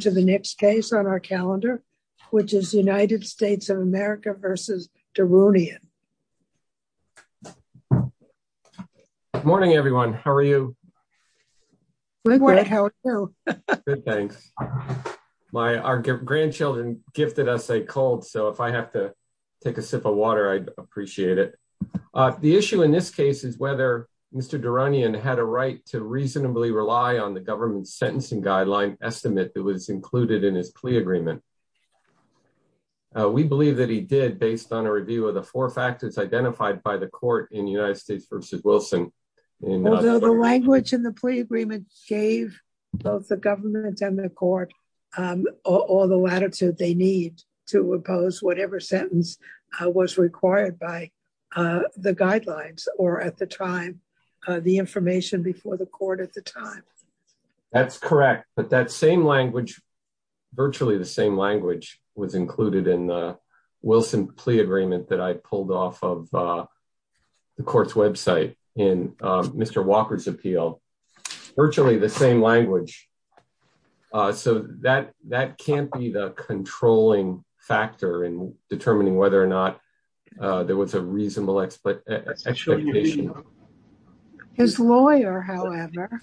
to the next case on our calendar, which is United States of America versus Derounian. Morning, everyone. How are you? Good, thanks. Our grandchildren gifted us a cold, so if I have to take a sip of water, I'd appreciate it. The issue in this case is whether Mr. Derounian had a right to reasonably rely on the government sentencing guideline estimate that was included in his plea agreement. We believe that he did based on a review of the four factors identified by the court in United States versus Wilson. Although the language in the plea agreement gave both the government and the court all the latitude they need to impose whatever sentence was required by the guidelines or at the time, the information before the court at the time. That's correct, but that same language, virtually the same language, was included in the Wilson plea agreement that I pulled off of the court's website in Mr. Walker's appeal. Virtually the same language, so that can't be the controlling factor in determining whether or not there was a reasonable expectation. His lawyer, however,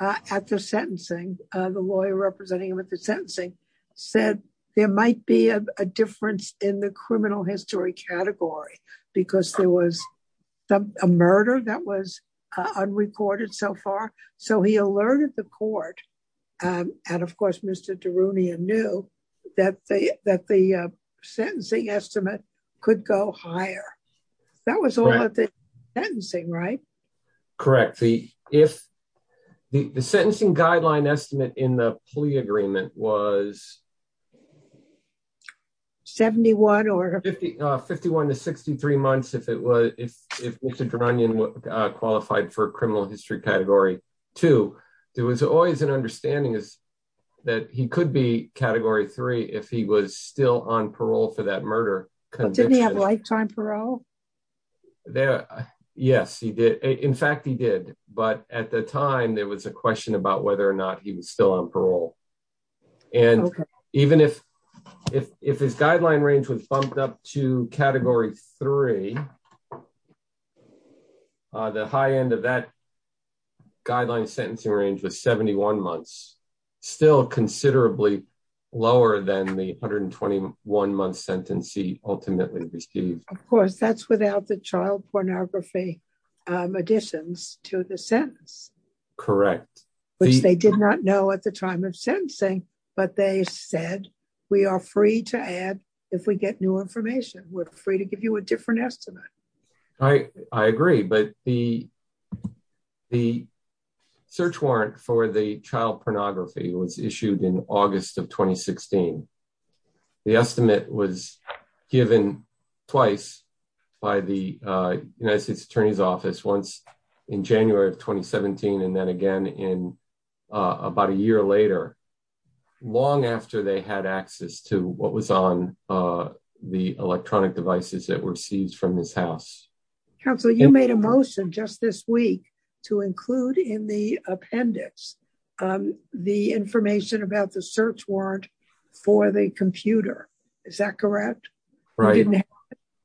at the sentencing, the lawyer representing him at the sentencing, said there might be a difference in the criminal history category because there was a murder that was unreported so far, so he alerted the court, and of course Mr. Darunian knew that the sentencing estimate could go higher. That was all at the sentencing, right? Correct. The sentencing guideline estimate in the plea agreement was... 71 or... 51 to 63 months if Mr. Darunian qualified for criminal history category. Two, there was always an understanding that he could be category three if he was still on parole for that murder conviction. Didn't he have lifetime parole? Yes, he did. In fact, he did, but at the time there was a question about whether or not he was still on parole, and even if his guideline range was bumped up to category three, the high end of that guideline sentencing range was 71 months, still considerably lower than the 121 month sentencing ultimately received. Of course, that's without the child pornography additions to the sentence. Correct. Which they did not know at the time of sentencing, but they said we are free to add if we get new information. We're free to give you a different estimate. I agree, but the search warrant for the child pornography was issued in August of 2016. The estimate was given twice by the United States Attorney's Office, once in January of 2017 and then again in about a year later, long after they had access to what was on the electronic devices that were seized from his house. Counselor, you made a motion just this week to include in the appendix the information about the search warrant for the computer. Is that correct?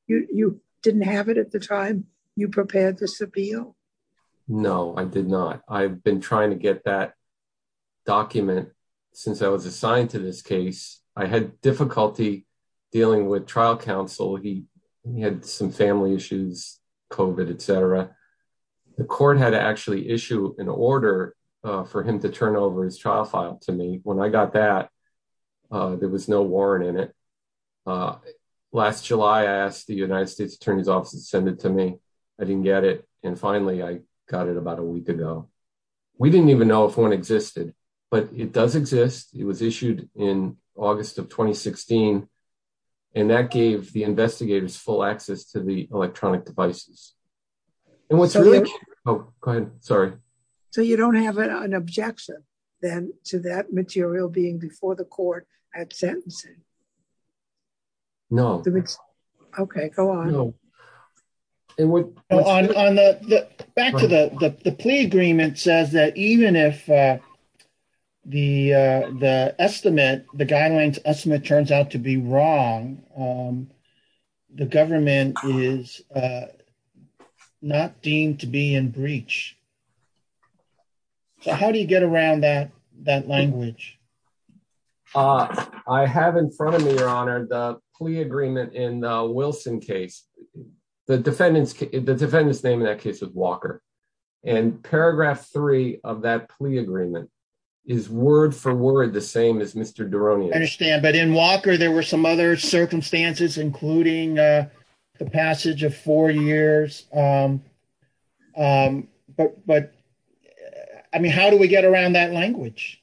You didn't have it at the time you prepared this appeal? No, I did not. I've been trying to get that document since I was assigned to this case. I had difficulty dealing with trial counsel. He had some family issues, COVID, etc. The court had to actually issue an order for him to turn over his trial file to me. When I got that, there was no warrant in it. Last July, I asked the United States Attorney's Office to send it to me. I didn't get it. Finally, I got it about a week ago. We didn't even know if one existed, but it does exist. It was issued in August of 2016. That gave the investigators full access to the electronic devices. You don't have an objection, then, to that material being the court had sentencing? No. Okay, go on. Back to the plea agreement says that even if the guidelines estimate turns out to be wrong, the government is not deemed to be in breach. How do you get around that language? I have in front of me, Your Honor, the plea agreement in the Wilson case. The defendant's name in that case was Walker. Paragraph three of that plea agreement is word for word the same as Mr. Deronio's. I understand, but in Walker, there were some other circumstances, including the passage of four years. How do we get around that language?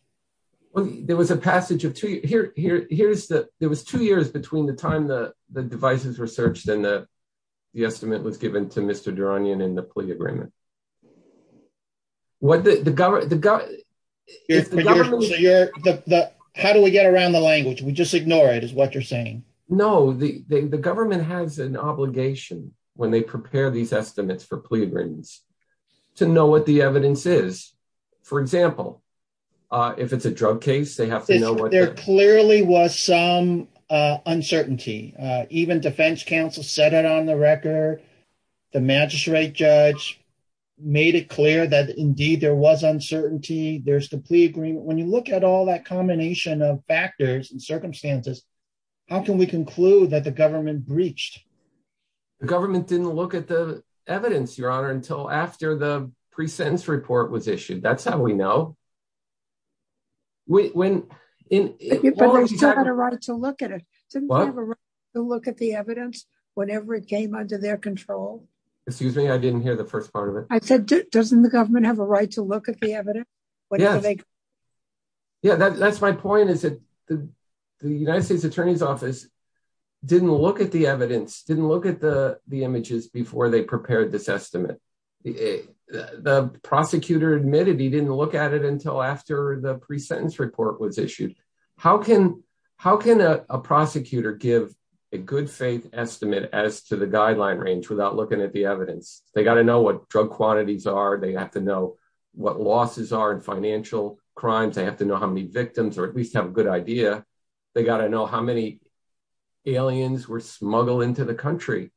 There was a passage of two years. There was two years between the time the devices were searched and the estimate was given to Mr. Deronio in the plea agreement. How do we get around the language? We just ignore it, is what you're saying? No. The government has an obligation when they prepare these estimates for plea agreements to know what the evidence is. For example, if it's a drug case, they have to know what... There clearly was some uncertainty. Even defense counsel said it on the record. The magistrate judge made it clear that indeed there was uncertainty. There's the plea agreement. When you look at all that combination of factors and circumstances, how can we conclude that the pre-sentence report was issued? That's how we know. But they still had a right to look at it. Didn't they have a right to look at the evidence whenever it came under their control? Excuse me. I didn't hear the first part of it. I said, doesn't the government have a right to look at the evidence? That's my point. The United States Attorney's Office didn't look at the evidence, didn't look at the images before they prepared this estimate. The prosecutor admitted he didn't look at it until after the pre-sentence report was issued. How can a prosecutor give a good faith estimate as to the guideline range without looking at the evidence? They got to know what drug quantities are. They have to know what losses are in financial crimes. They have to know how many victims or at least have a good idea. They got to know how many aliens were smuggled into the country.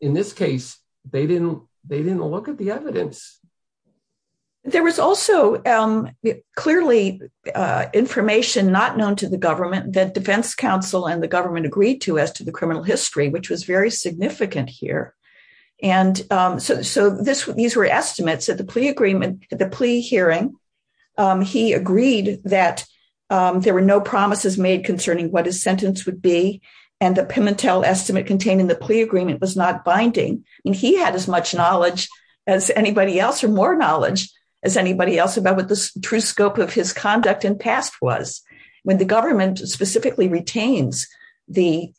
In this case, they didn't look at the evidence. There was also clearly information not known to the government that defense counsel and the government agreed to as to the criminal history, which was very significant here. And so these were estimates at the plea hearing. He agreed that there were no promises made concerning what his sentence would be. And the Pimentel estimate contained in the plea agreement was not binding. And he had as much knowledge as anybody else or more knowledge as anybody else about what the true scope of his conduct in past was. When the government specifically retains the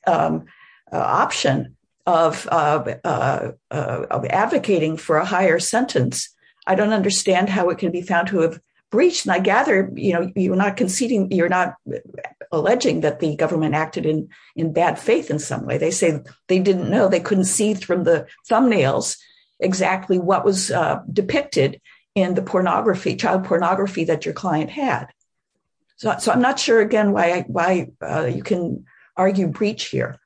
option of advocating for a higher sentence, I don't understand how it can be found to have reached. And I gather you're not conceding, you're not alleging that the government acted in bad faith in some way. They say they didn't know, they couldn't see from the thumbnails exactly what was depicted in the pornography, child pornography that your client had. So I'm not sure, again, why you can argue breach here.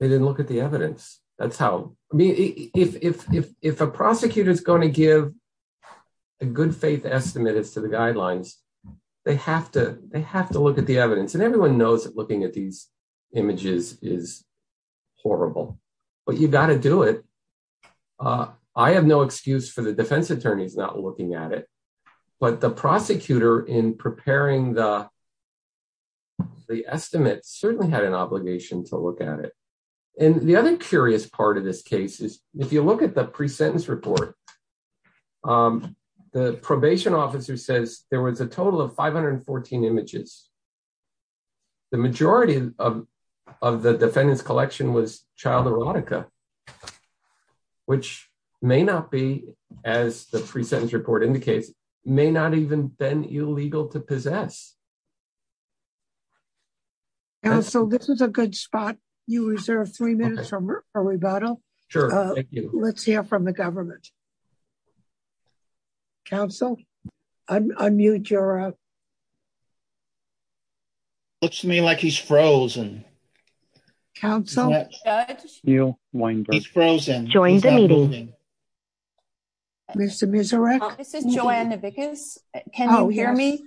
They didn't look at the evidence. That's how, I mean, if a prosecutor is going to give a good faith estimate as to the guidelines, they have to look at the evidence. And everyone knows that looking at these images is horrible, but you got to do it. I have no excuse for the defense attorneys not looking at it, but the prosecutor in preparing the estimate certainly had an obligation to look at it. And the other curious part of this case is if you look at the the probation officer says there was a total of 514 images. The majority of the defendant's collection was child erotica, which may not be, as the pre-sentence report indicates, may not even been illegal to possess. So this is a good spot. You reserve three minutes for rebuttal. Let's hear from the government. Counsel? Unmute your... Looks to me like he's frozen. Counsel? Judge? You, Weinberg. He's frozen. Join the meeting. Mr. Miserec? This is Joanne Navickas. Can you hear me?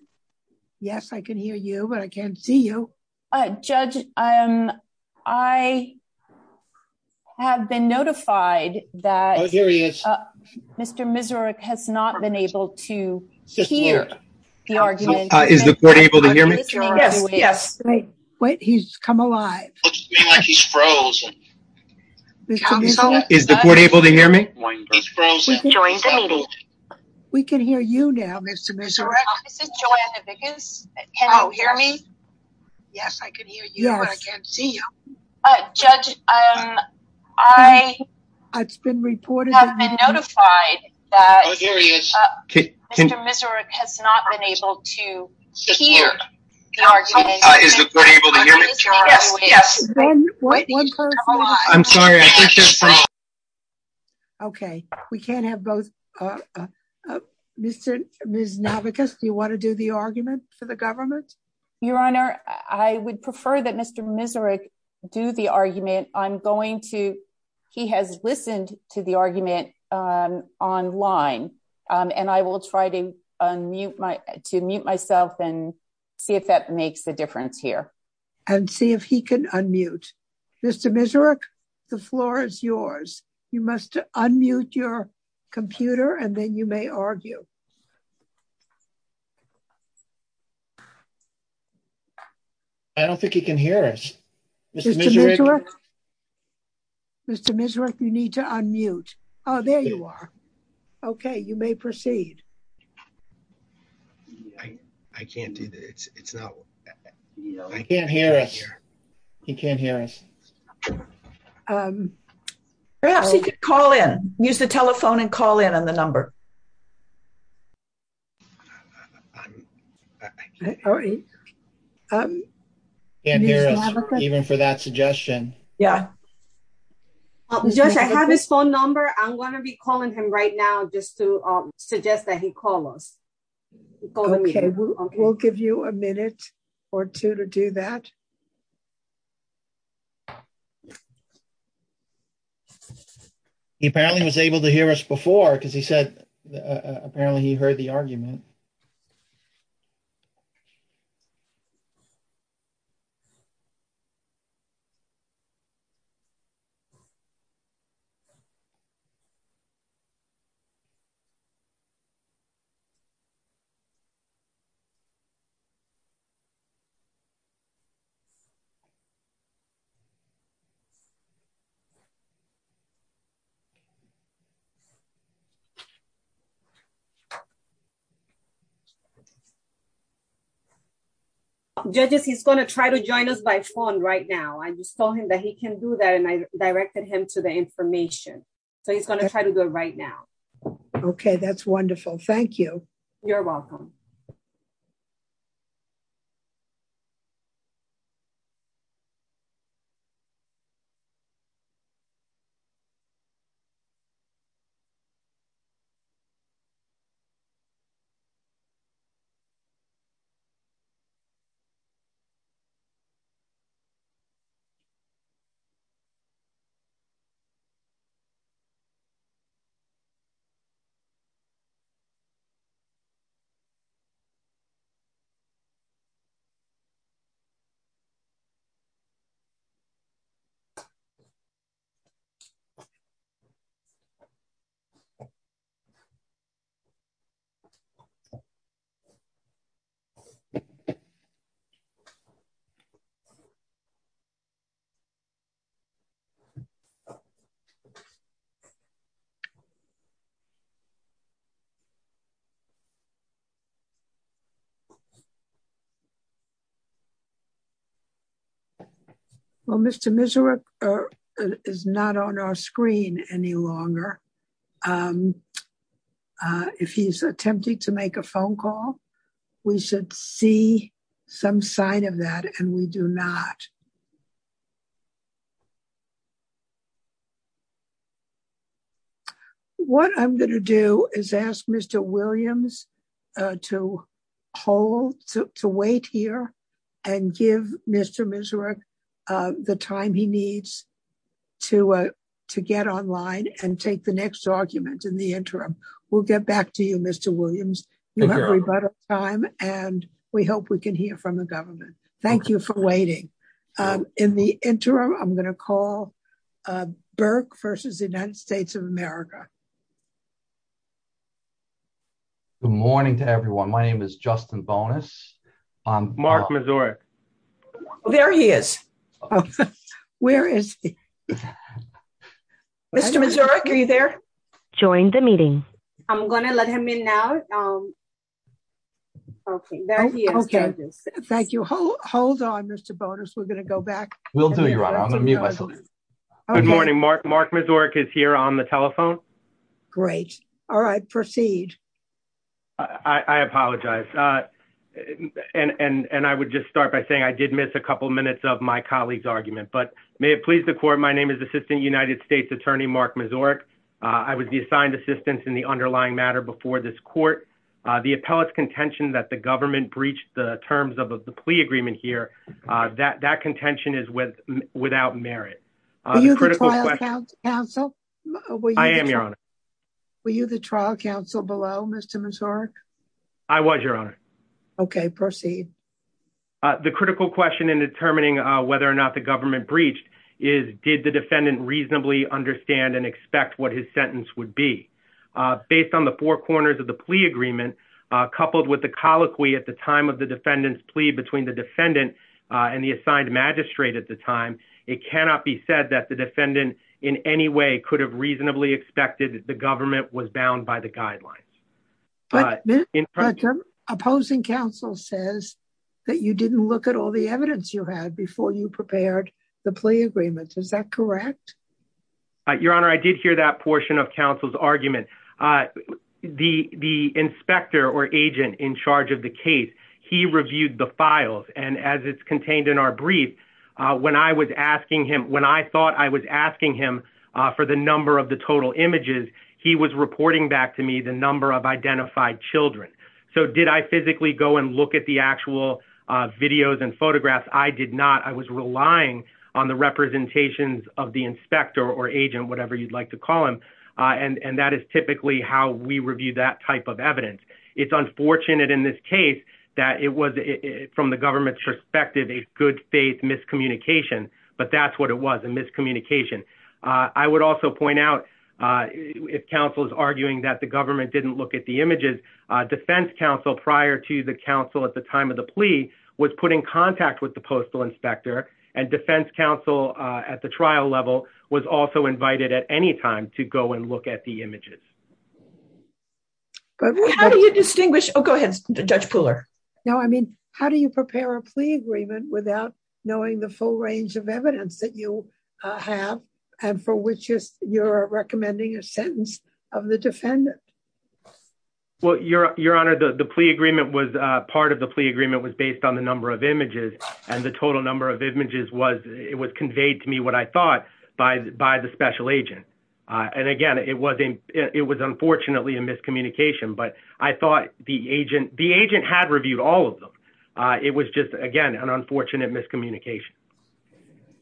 Yes, I can hear you, but I can't see you. Judge, I have been notified that... Oh, here he is. Mr. Miserec has not been able to hear the argument. Is the court able to hear me? Yes. Wait, he's come alive. Looks to me like he's frozen. Is the court able to hear me? Join the meeting. We can hear you now, Mr. Miserec. This is Joanne Navickas. Can you hear me? Yes, I can hear you, but I can't see you. Judge, I have been notified that... Oh, here he is. Mr. Miserec has not been able to hear the argument. Is the court able to hear me? Yes. I'm sorry. Okay, we can't have both... Ms. Navickas, do you want to do the argument for the government? Your Honor, I would prefer that Mr. Miserec do the argument. He has listened to the argument online, and I will try to mute myself and see if that makes a difference here. And see if he can unmute. Mr. Miserec, the floor is yours. You must unmute your computer, and then you may argue. I don't think he can hear us. Mr. Miserec, you need to unmute. Oh, there you are. Okay, you may proceed. I can't do that. I can't hear us. He can't hear us. Use the telephone and call in on the number. He can't hear us, even for that suggestion. Yeah. Judge, I have his phone number. I'm going to be calling him right now just to suggest that he call us. Okay, we'll give you a minute or two to do that. He apparently was able to hear us before because he said, apparently, he heard the argument. Judges, he's going to try to join us by phone right now. I just told him that he can do that, and I directed him to the information. So he's going to try to do it right now. Okay, that's wonderful. Thank you. You're welcome. Okay. Well, Mr. Miserec is not on our screen any longer. If he's attempting to make a phone call, we should see some sign of that, and we do not. What I'm going to do is ask Mr. Williams to hold, to wait here and give Mr. Miserec the time he needs to get online and take the next argument in the interim. We'll get back to you, Mr. Williams. You have rebuttal time, and we hope we can hear from the government. Thank you for waiting. In the interim, I'm going to call Burke versus the United States of America. Good morning to everyone. My name is Justin Bonas. Mark Miserec. There he is. Oh, where is he? Mr. Miserec, are you there? Join the meeting. I'm going to let him in now. Okay, there he is. Thank you. Hold on, Mr. Bonas. We're going to go back. Will do, Your Honor. I'm going to mute myself. Good morning, Mark. Mark Miserec is here on the telephone. Great. All right, proceed. I apologize, and I would just start by saying I did miss a couple minutes of my colleague's argument, but may it please the court. My name is Assistant United States Attorney Mark Miserec. I was the assigned assistant in the underlying matter before this court. The appellate's contention that the government breached the terms of the plea agreement here, that contention is without merit. Were you the trial counsel? I am, Your Honor. Were you the trial counsel below, Mr. Miserec? I was, Your Honor. Okay, proceed. The critical question in determining whether or not the government breached is did the defendant reasonably understand and expect what his sentence would be? Based on the four corners of the plea agreement, coupled with the colloquy at the time of the defendant's plea between the defendant and the assigned magistrate at the time, it cannot be said that the defendant in any way could have reasonably expected that the government was bound by the guidelines. But the opposing counsel says that you didn't look at all the evidence you had before you prepared the plea agreements. Is that correct? Your Honor, I did hear that portion of counsel's argument. The inspector or agent in charge of the case, he reviewed the files, and as it's contained in our brief, when I was asking him, when I thought I was asking him for the number of total images, he was reporting back to me the number of identified children. So did I physically go and look at the actual videos and photographs? I did not. I was relying on the representations of the inspector or agent, whatever you'd like to call him, and that is typically how we review that type of evidence. It's unfortunate in this case that it was, from the government's perspective, a good faith miscommunication, but that's what it was, a miscommunication. I would also point out, if counsel is arguing that the government didn't look at the images, defense counsel, prior to the counsel at the time of the plea, was put in contact with the postal inspector, and defense counsel at the trial level was also invited at any time to go and look at the images. How do you distinguish? Oh, go ahead, Judge Pooler. No, I mean, how do you prepare a plea agreement without knowing the full range of evidence that you have, and for which you're recommending a sentence of the defendant? Well, Your Honor, the plea agreement was, part of the plea agreement was based on the number of images, and the total number of images was, it was conveyed to me, what I thought, by the special agent. And again, it was unfortunately a miscommunication, but I thought the agent had reviewed all of them. It was just, again, an unfortunate miscommunication.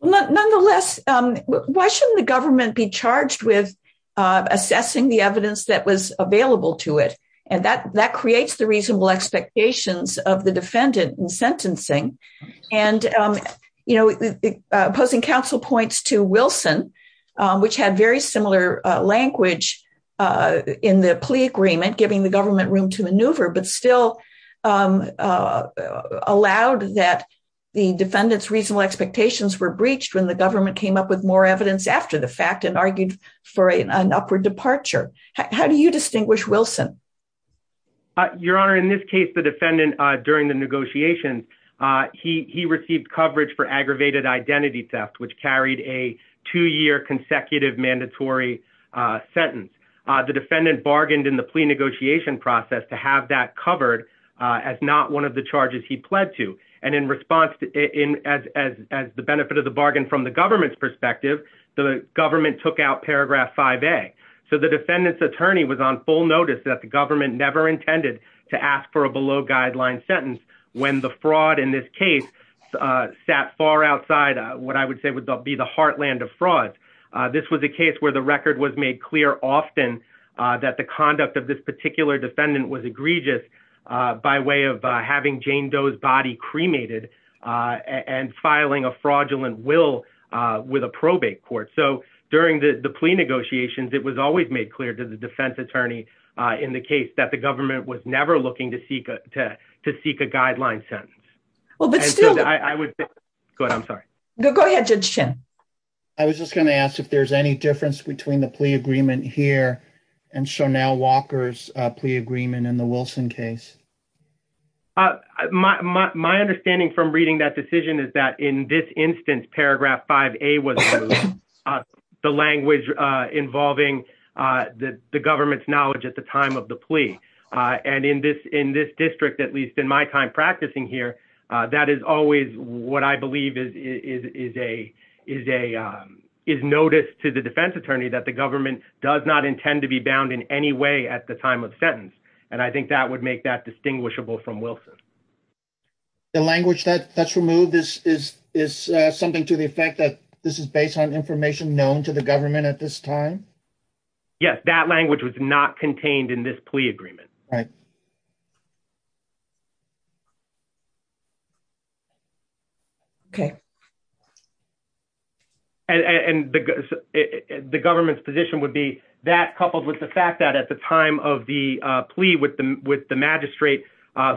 But nonetheless, why shouldn't the government be charged with assessing the evidence that was available to it? And that creates the reasonable expectations of the defendant in sentencing. And, you know, opposing counsel points to Wilson, which had very similar language in the plea agreement, giving the government room to maneuver, but still allowed that the expectations were breached when the government came up with more evidence after the fact and argued for an upward departure. How do you distinguish Wilson? Your Honor, in this case, the defendant, during the negotiations, he received coverage for aggravated identity theft, which carried a two-year consecutive mandatory sentence. The defendant bargained in the plea negotiation process to have that covered as not one of the charges he pled to. And in response, as the benefit of the bargain from the government's perspective, the government took out paragraph 5A. So the defendant's attorney was on full notice that the government never intended to ask for a below-guideline sentence when the fraud in this case sat far outside what I would say would be the heartland of fraud. This was a case where the record was made clear often that the conduct of this particular defendant was egregious by way of having Jane Doe's body cremated and filing a fraudulent will with a probate court. So during the plea negotiations, it was always made clear to the defense attorney in the case that the government was never looking to seek a guideline sentence. Well, but still— I would— Go ahead. I'm sorry. Go ahead, Judge Chin. I was just going to ask if there's any difference between the plea agreement here and Walker's plea agreement in the Wilson case. My understanding from reading that decision is that in this instance, paragraph 5A was the language involving the government's knowledge at the time of the plea. And in this district, at least in my time practicing here, that is always what I believe is notice to the defense attorney that the government does not intend to be bound in any way at the time of sentence. And I think that would make that distinguishable from Wilson. The language that's removed is something to the effect that this is based on information known to the government at this time? Yes, that language was not contained in this plea agreement. Right. Okay. And the government's position would be that coupled with the fact that at the time of the plea with the magistrate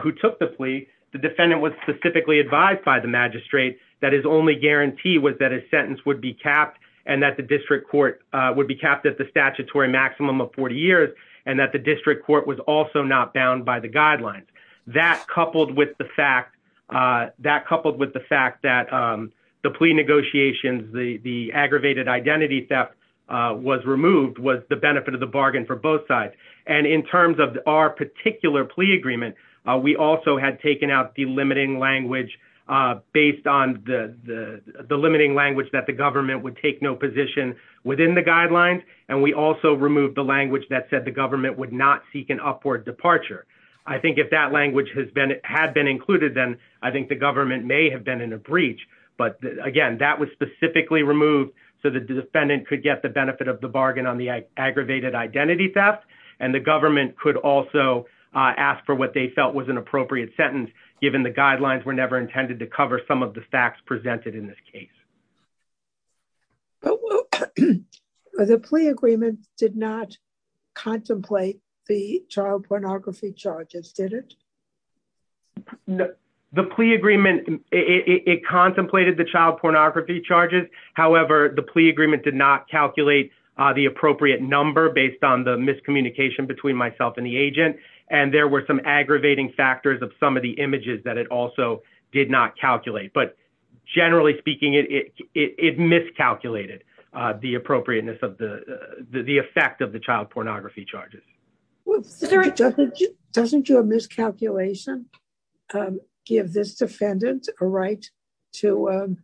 who took the plea, the defendant was specifically advised by the magistrate that his only guarantee was that his sentence would be capped and that the district court would be capped at the statutory maximum of 40 years and that the district court was also not bound by the guidelines. That coupled with the fact that the plea negotiations, the aggravated identity theft was removed was the benefit of the bargain for both sides. And in terms of our particular plea agreement, we also had taken out the limiting language based on the limiting language that the government would take no position within the guidelines. And we also removed the language that said the government would not seek an upward departure. I think if that language had been included, then I think the government may have been in a breach, but again, that was specifically removed so that the defendant could get the benefit of the bargain on the aggravated identity theft. And the government could also ask for what they felt was an appropriate sentence, given the guidelines were never intended to cover some of the facts presented in this case. Well, the plea agreement did not contemplate the child pornography charges, did it? No, the plea agreement, it contemplated the child pornography charges. However, the plea agreement did not calculate the appropriate number based on the miscommunication between myself and the agent. And there were some aggravating factors of some of the images that it also did not calculate. But generally speaking, it miscalculated the appropriateness of the effect of the child pornography charges. Doesn't your miscalculation give this defendant a right to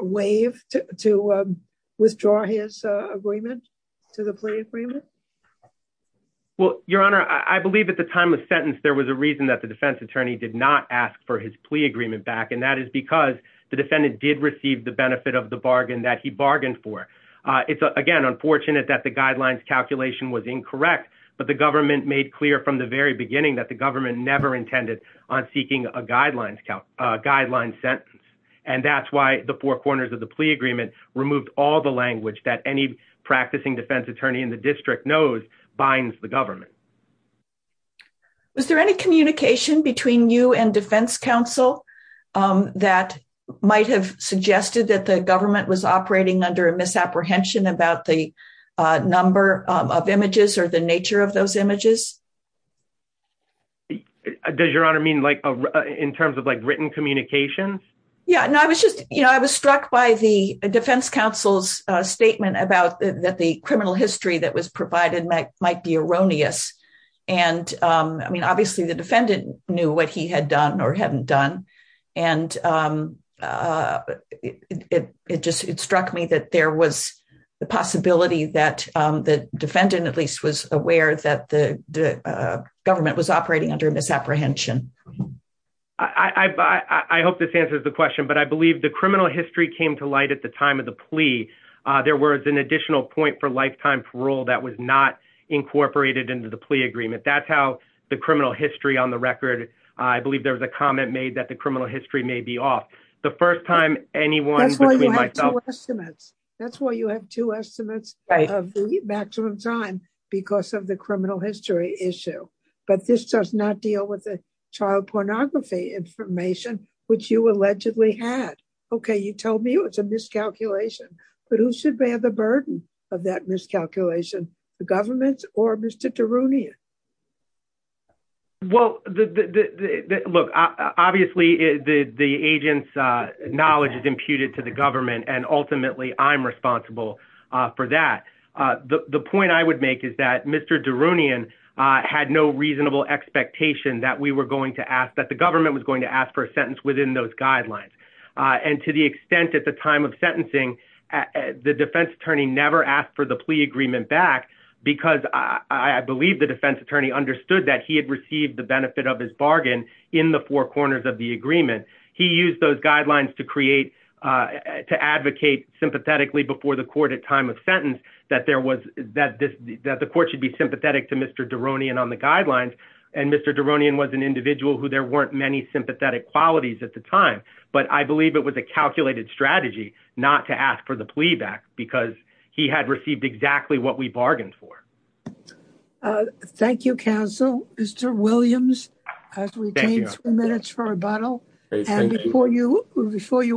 waive, to withdraw his agreement to the plea agreement? Well, Your Honor, I believe at the time of sentence, there was a reason that the defense attorney did not ask for his plea agreement back. And that is because the defendant did receive the benefit of the bargain that he bargained for. It's, again, unfortunate that the guidelines calculation was incorrect. But the government made clear from the very beginning that the government never intended on seeking a guideline sentence. And that's why the four corners of the plea agreement removed all the language that any practicing defense attorney in the district knows binds the government. Was there any communication between you and defense counsel that might have suggested that the government was operating under a misapprehension about the number of images or the nature of those images? Does Your Honor mean like in terms of like written communications? Yeah, no, I was just, you know, I was struck by the defense counsel's statement about that the criminal history that was provided might be erroneous. And I mean, obviously, the defendant knew what he had done or hadn't done. And it just it struck me that there was the possibility that the defendant at least was aware that the government was operating under misapprehension. I hope this answers the question. But I believe the criminal history came to light at the time of the plea. There was an additional point for lifetime parole that was not incorporated into the plea agreement. That's how the criminal history on the record. I believe there was a comment made that the criminal history may be off. The first time anyone. That's why you have two estimates of maximum time because of the criminal history issue. But this does not deal with the child pornography information, which you allegedly had. OK, you told me it's a miscalculation. But who should bear the burden of that miscalculation? The government or Mr. Darunian? Well, look, obviously, the agent's knowledge is imputed to the government, and ultimately I'm responsible for that. The point I would make is that Mr. Darunian had no reasonable expectation that we were going to ask that the government was going to ask for a sentence within those guidelines. And to the extent at the time of sentencing, the defense attorney never asked for the plea agreement back because I believe the defense attorney understood that he had received the benefit of his bargain in the four corners of the agreement. He used those guidelines to create to advocate sympathetically before the court at time of sentence that there was that the court should be sympathetic to Mr. Darunian on the guidelines. And Mr. Darunian was an individual who there weren't many sympathetic qualities at the time. But I believe it was a calculated strategy not to ask for the plea back because he had received exactly what we bargained for. Thank you, counsel. Mr. Williams, as we change minutes for rebuttal, and before you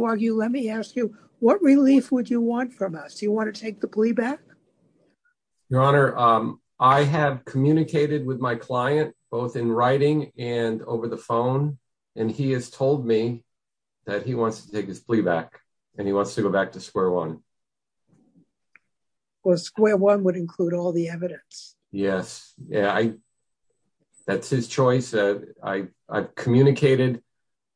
argue, let me ask you, what relief would you want from us? Do you want to take the plea back? Your Honor, I have communicated with my client both in writing and over the phone, and he has told me that he wants to take his plea back and he wants to go back to square one. Well, square one would include all the evidence. Yes, yeah, that's his choice. I communicated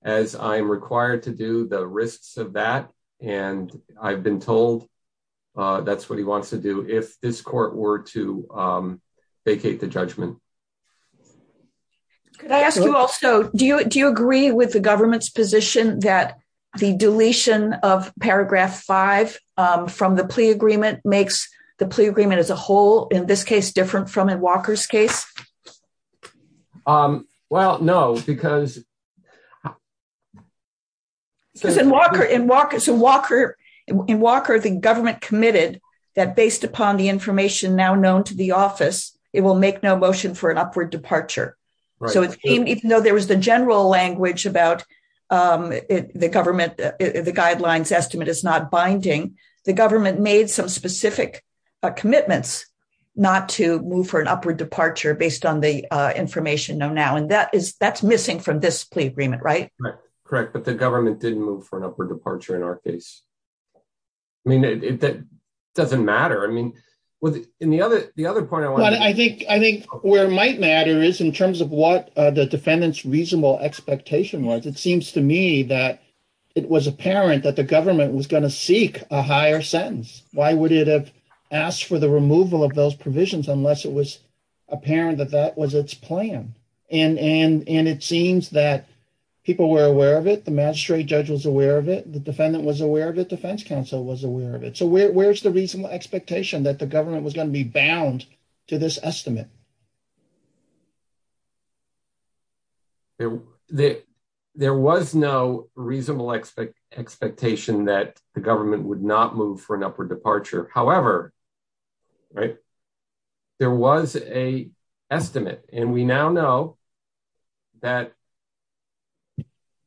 as I'm required to do the risks of that. And I've been told that's what he wants to do if this court were to vacate the judgment. Could I ask you also, do you agree with the government's position that the deletion of the plea agreement as a whole, in this case, different from in Walker's case? Well, no, because... So in Walker, the government committed that based upon the information now known to the office, it will make no motion for an upward departure. So even though there was the general language about the government, the guidelines estimate is not binding. The government made some specific commitments not to move for an upward departure based on the information now. And that's missing from this plea agreement, right? Correct, but the government didn't move for an upward departure in our case. I mean, that doesn't matter. I mean, in the other point... I think where it might matter is in terms of what the defendant's reasonable expectation was. It seems to me that it was apparent that the government was going to seek a higher sentence. Why would it have asked for the removal of those provisions unless it was apparent that that was its plan? And it seems that people were aware of it. The magistrate judge was aware of it. The defendant was aware of it. Defense counsel was aware of it. So where's the reasonable expectation that the government was going to be bound to this estimate? There was no reasonable expectation that the government would not move for an upward departure. However, right, there was a estimate. And we now know that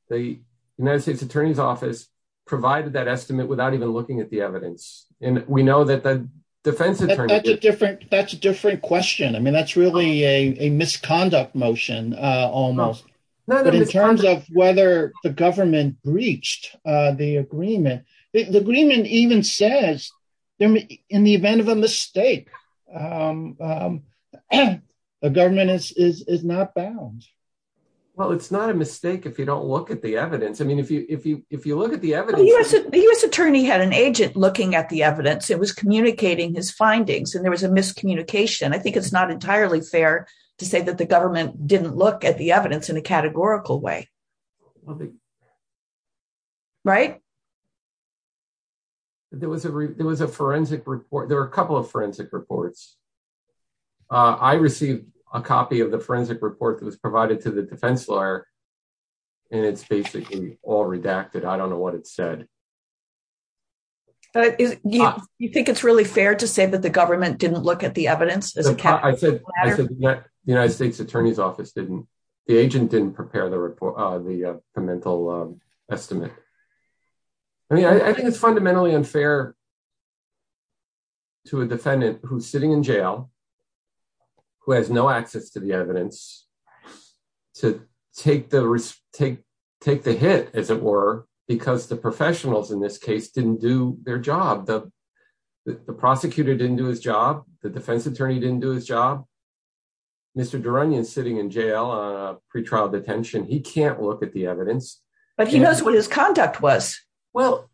the United States Attorney's Office provided that estimate without even looking at the evidence. And we know that the defense attorney... That's a different question. That's really a misconduct motion almost. But in terms of whether the government breached the agreement, the agreement even says in the event of a mistake, the government is not bound. Well, it's not a mistake if you don't look at the evidence. I mean, if you look at the evidence... The U.S. attorney had an agent looking at the evidence. It was communicating his findings. And there was a miscommunication. I think it's not entirely fair to say that the government didn't look at the evidence in a categorical way. Right? There was a forensic report. There were a couple of forensic reports. I received a copy of the forensic report that was provided to the defense lawyer. And it's basically all redacted. I don't know what it said. Do you think it's really fair to say that the government didn't look at the evidence? I said the United States attorney's office didn't. The agent didn't prepare the report, the pre-mental estimate. I mean, I think it's fundamentally unfair to a defendant who's sitting in jail, who has no access to the evidence, to take the hit, as it were, because the professional in this case didn't do their job. The prosecutor didn't do his job. The defense attorney didn't do his job. Mr. Duranian is sitting in jail, pre-trial detention. He can't look at the evidence. But he knows what his conduct was. Well,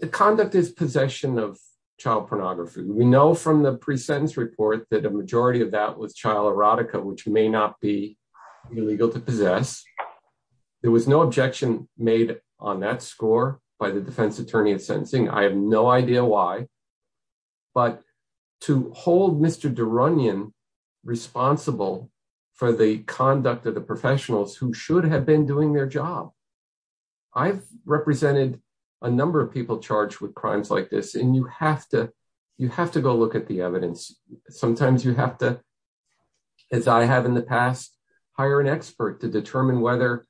the conduct is possession of child pornography. We know from the pre-sentence report that a majority of that was child erotica, which may not be illegal to possess. There was no objection made on that score by the defense attorney in sentencing. I have no idea why. But to hold Mr. Duranian responsible for the conduct of the professionals who should have been doing their job. I've represented a number of people charged with crimes like this, and you have to go look at the evidence. Sometimes you have to, as I have in the past, hire an expert to determine whether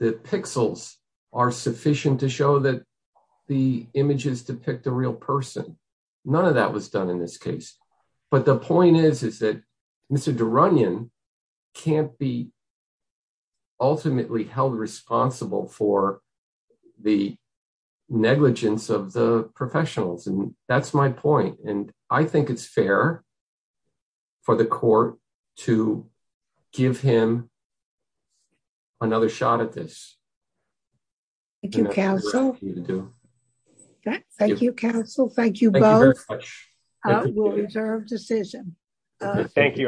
the pixels are sufficient to show that the images depict a real person. None of that was done in this case. But the point is, is that Mr. Duranian can't be ultimately held responsible for the negligence of the professionals. And that's my point. And I think it's fair for the court to give him another shot at this. Thank you, counsel. Thank you, counsel. Thank you both. We'll reserve decision. Thank you.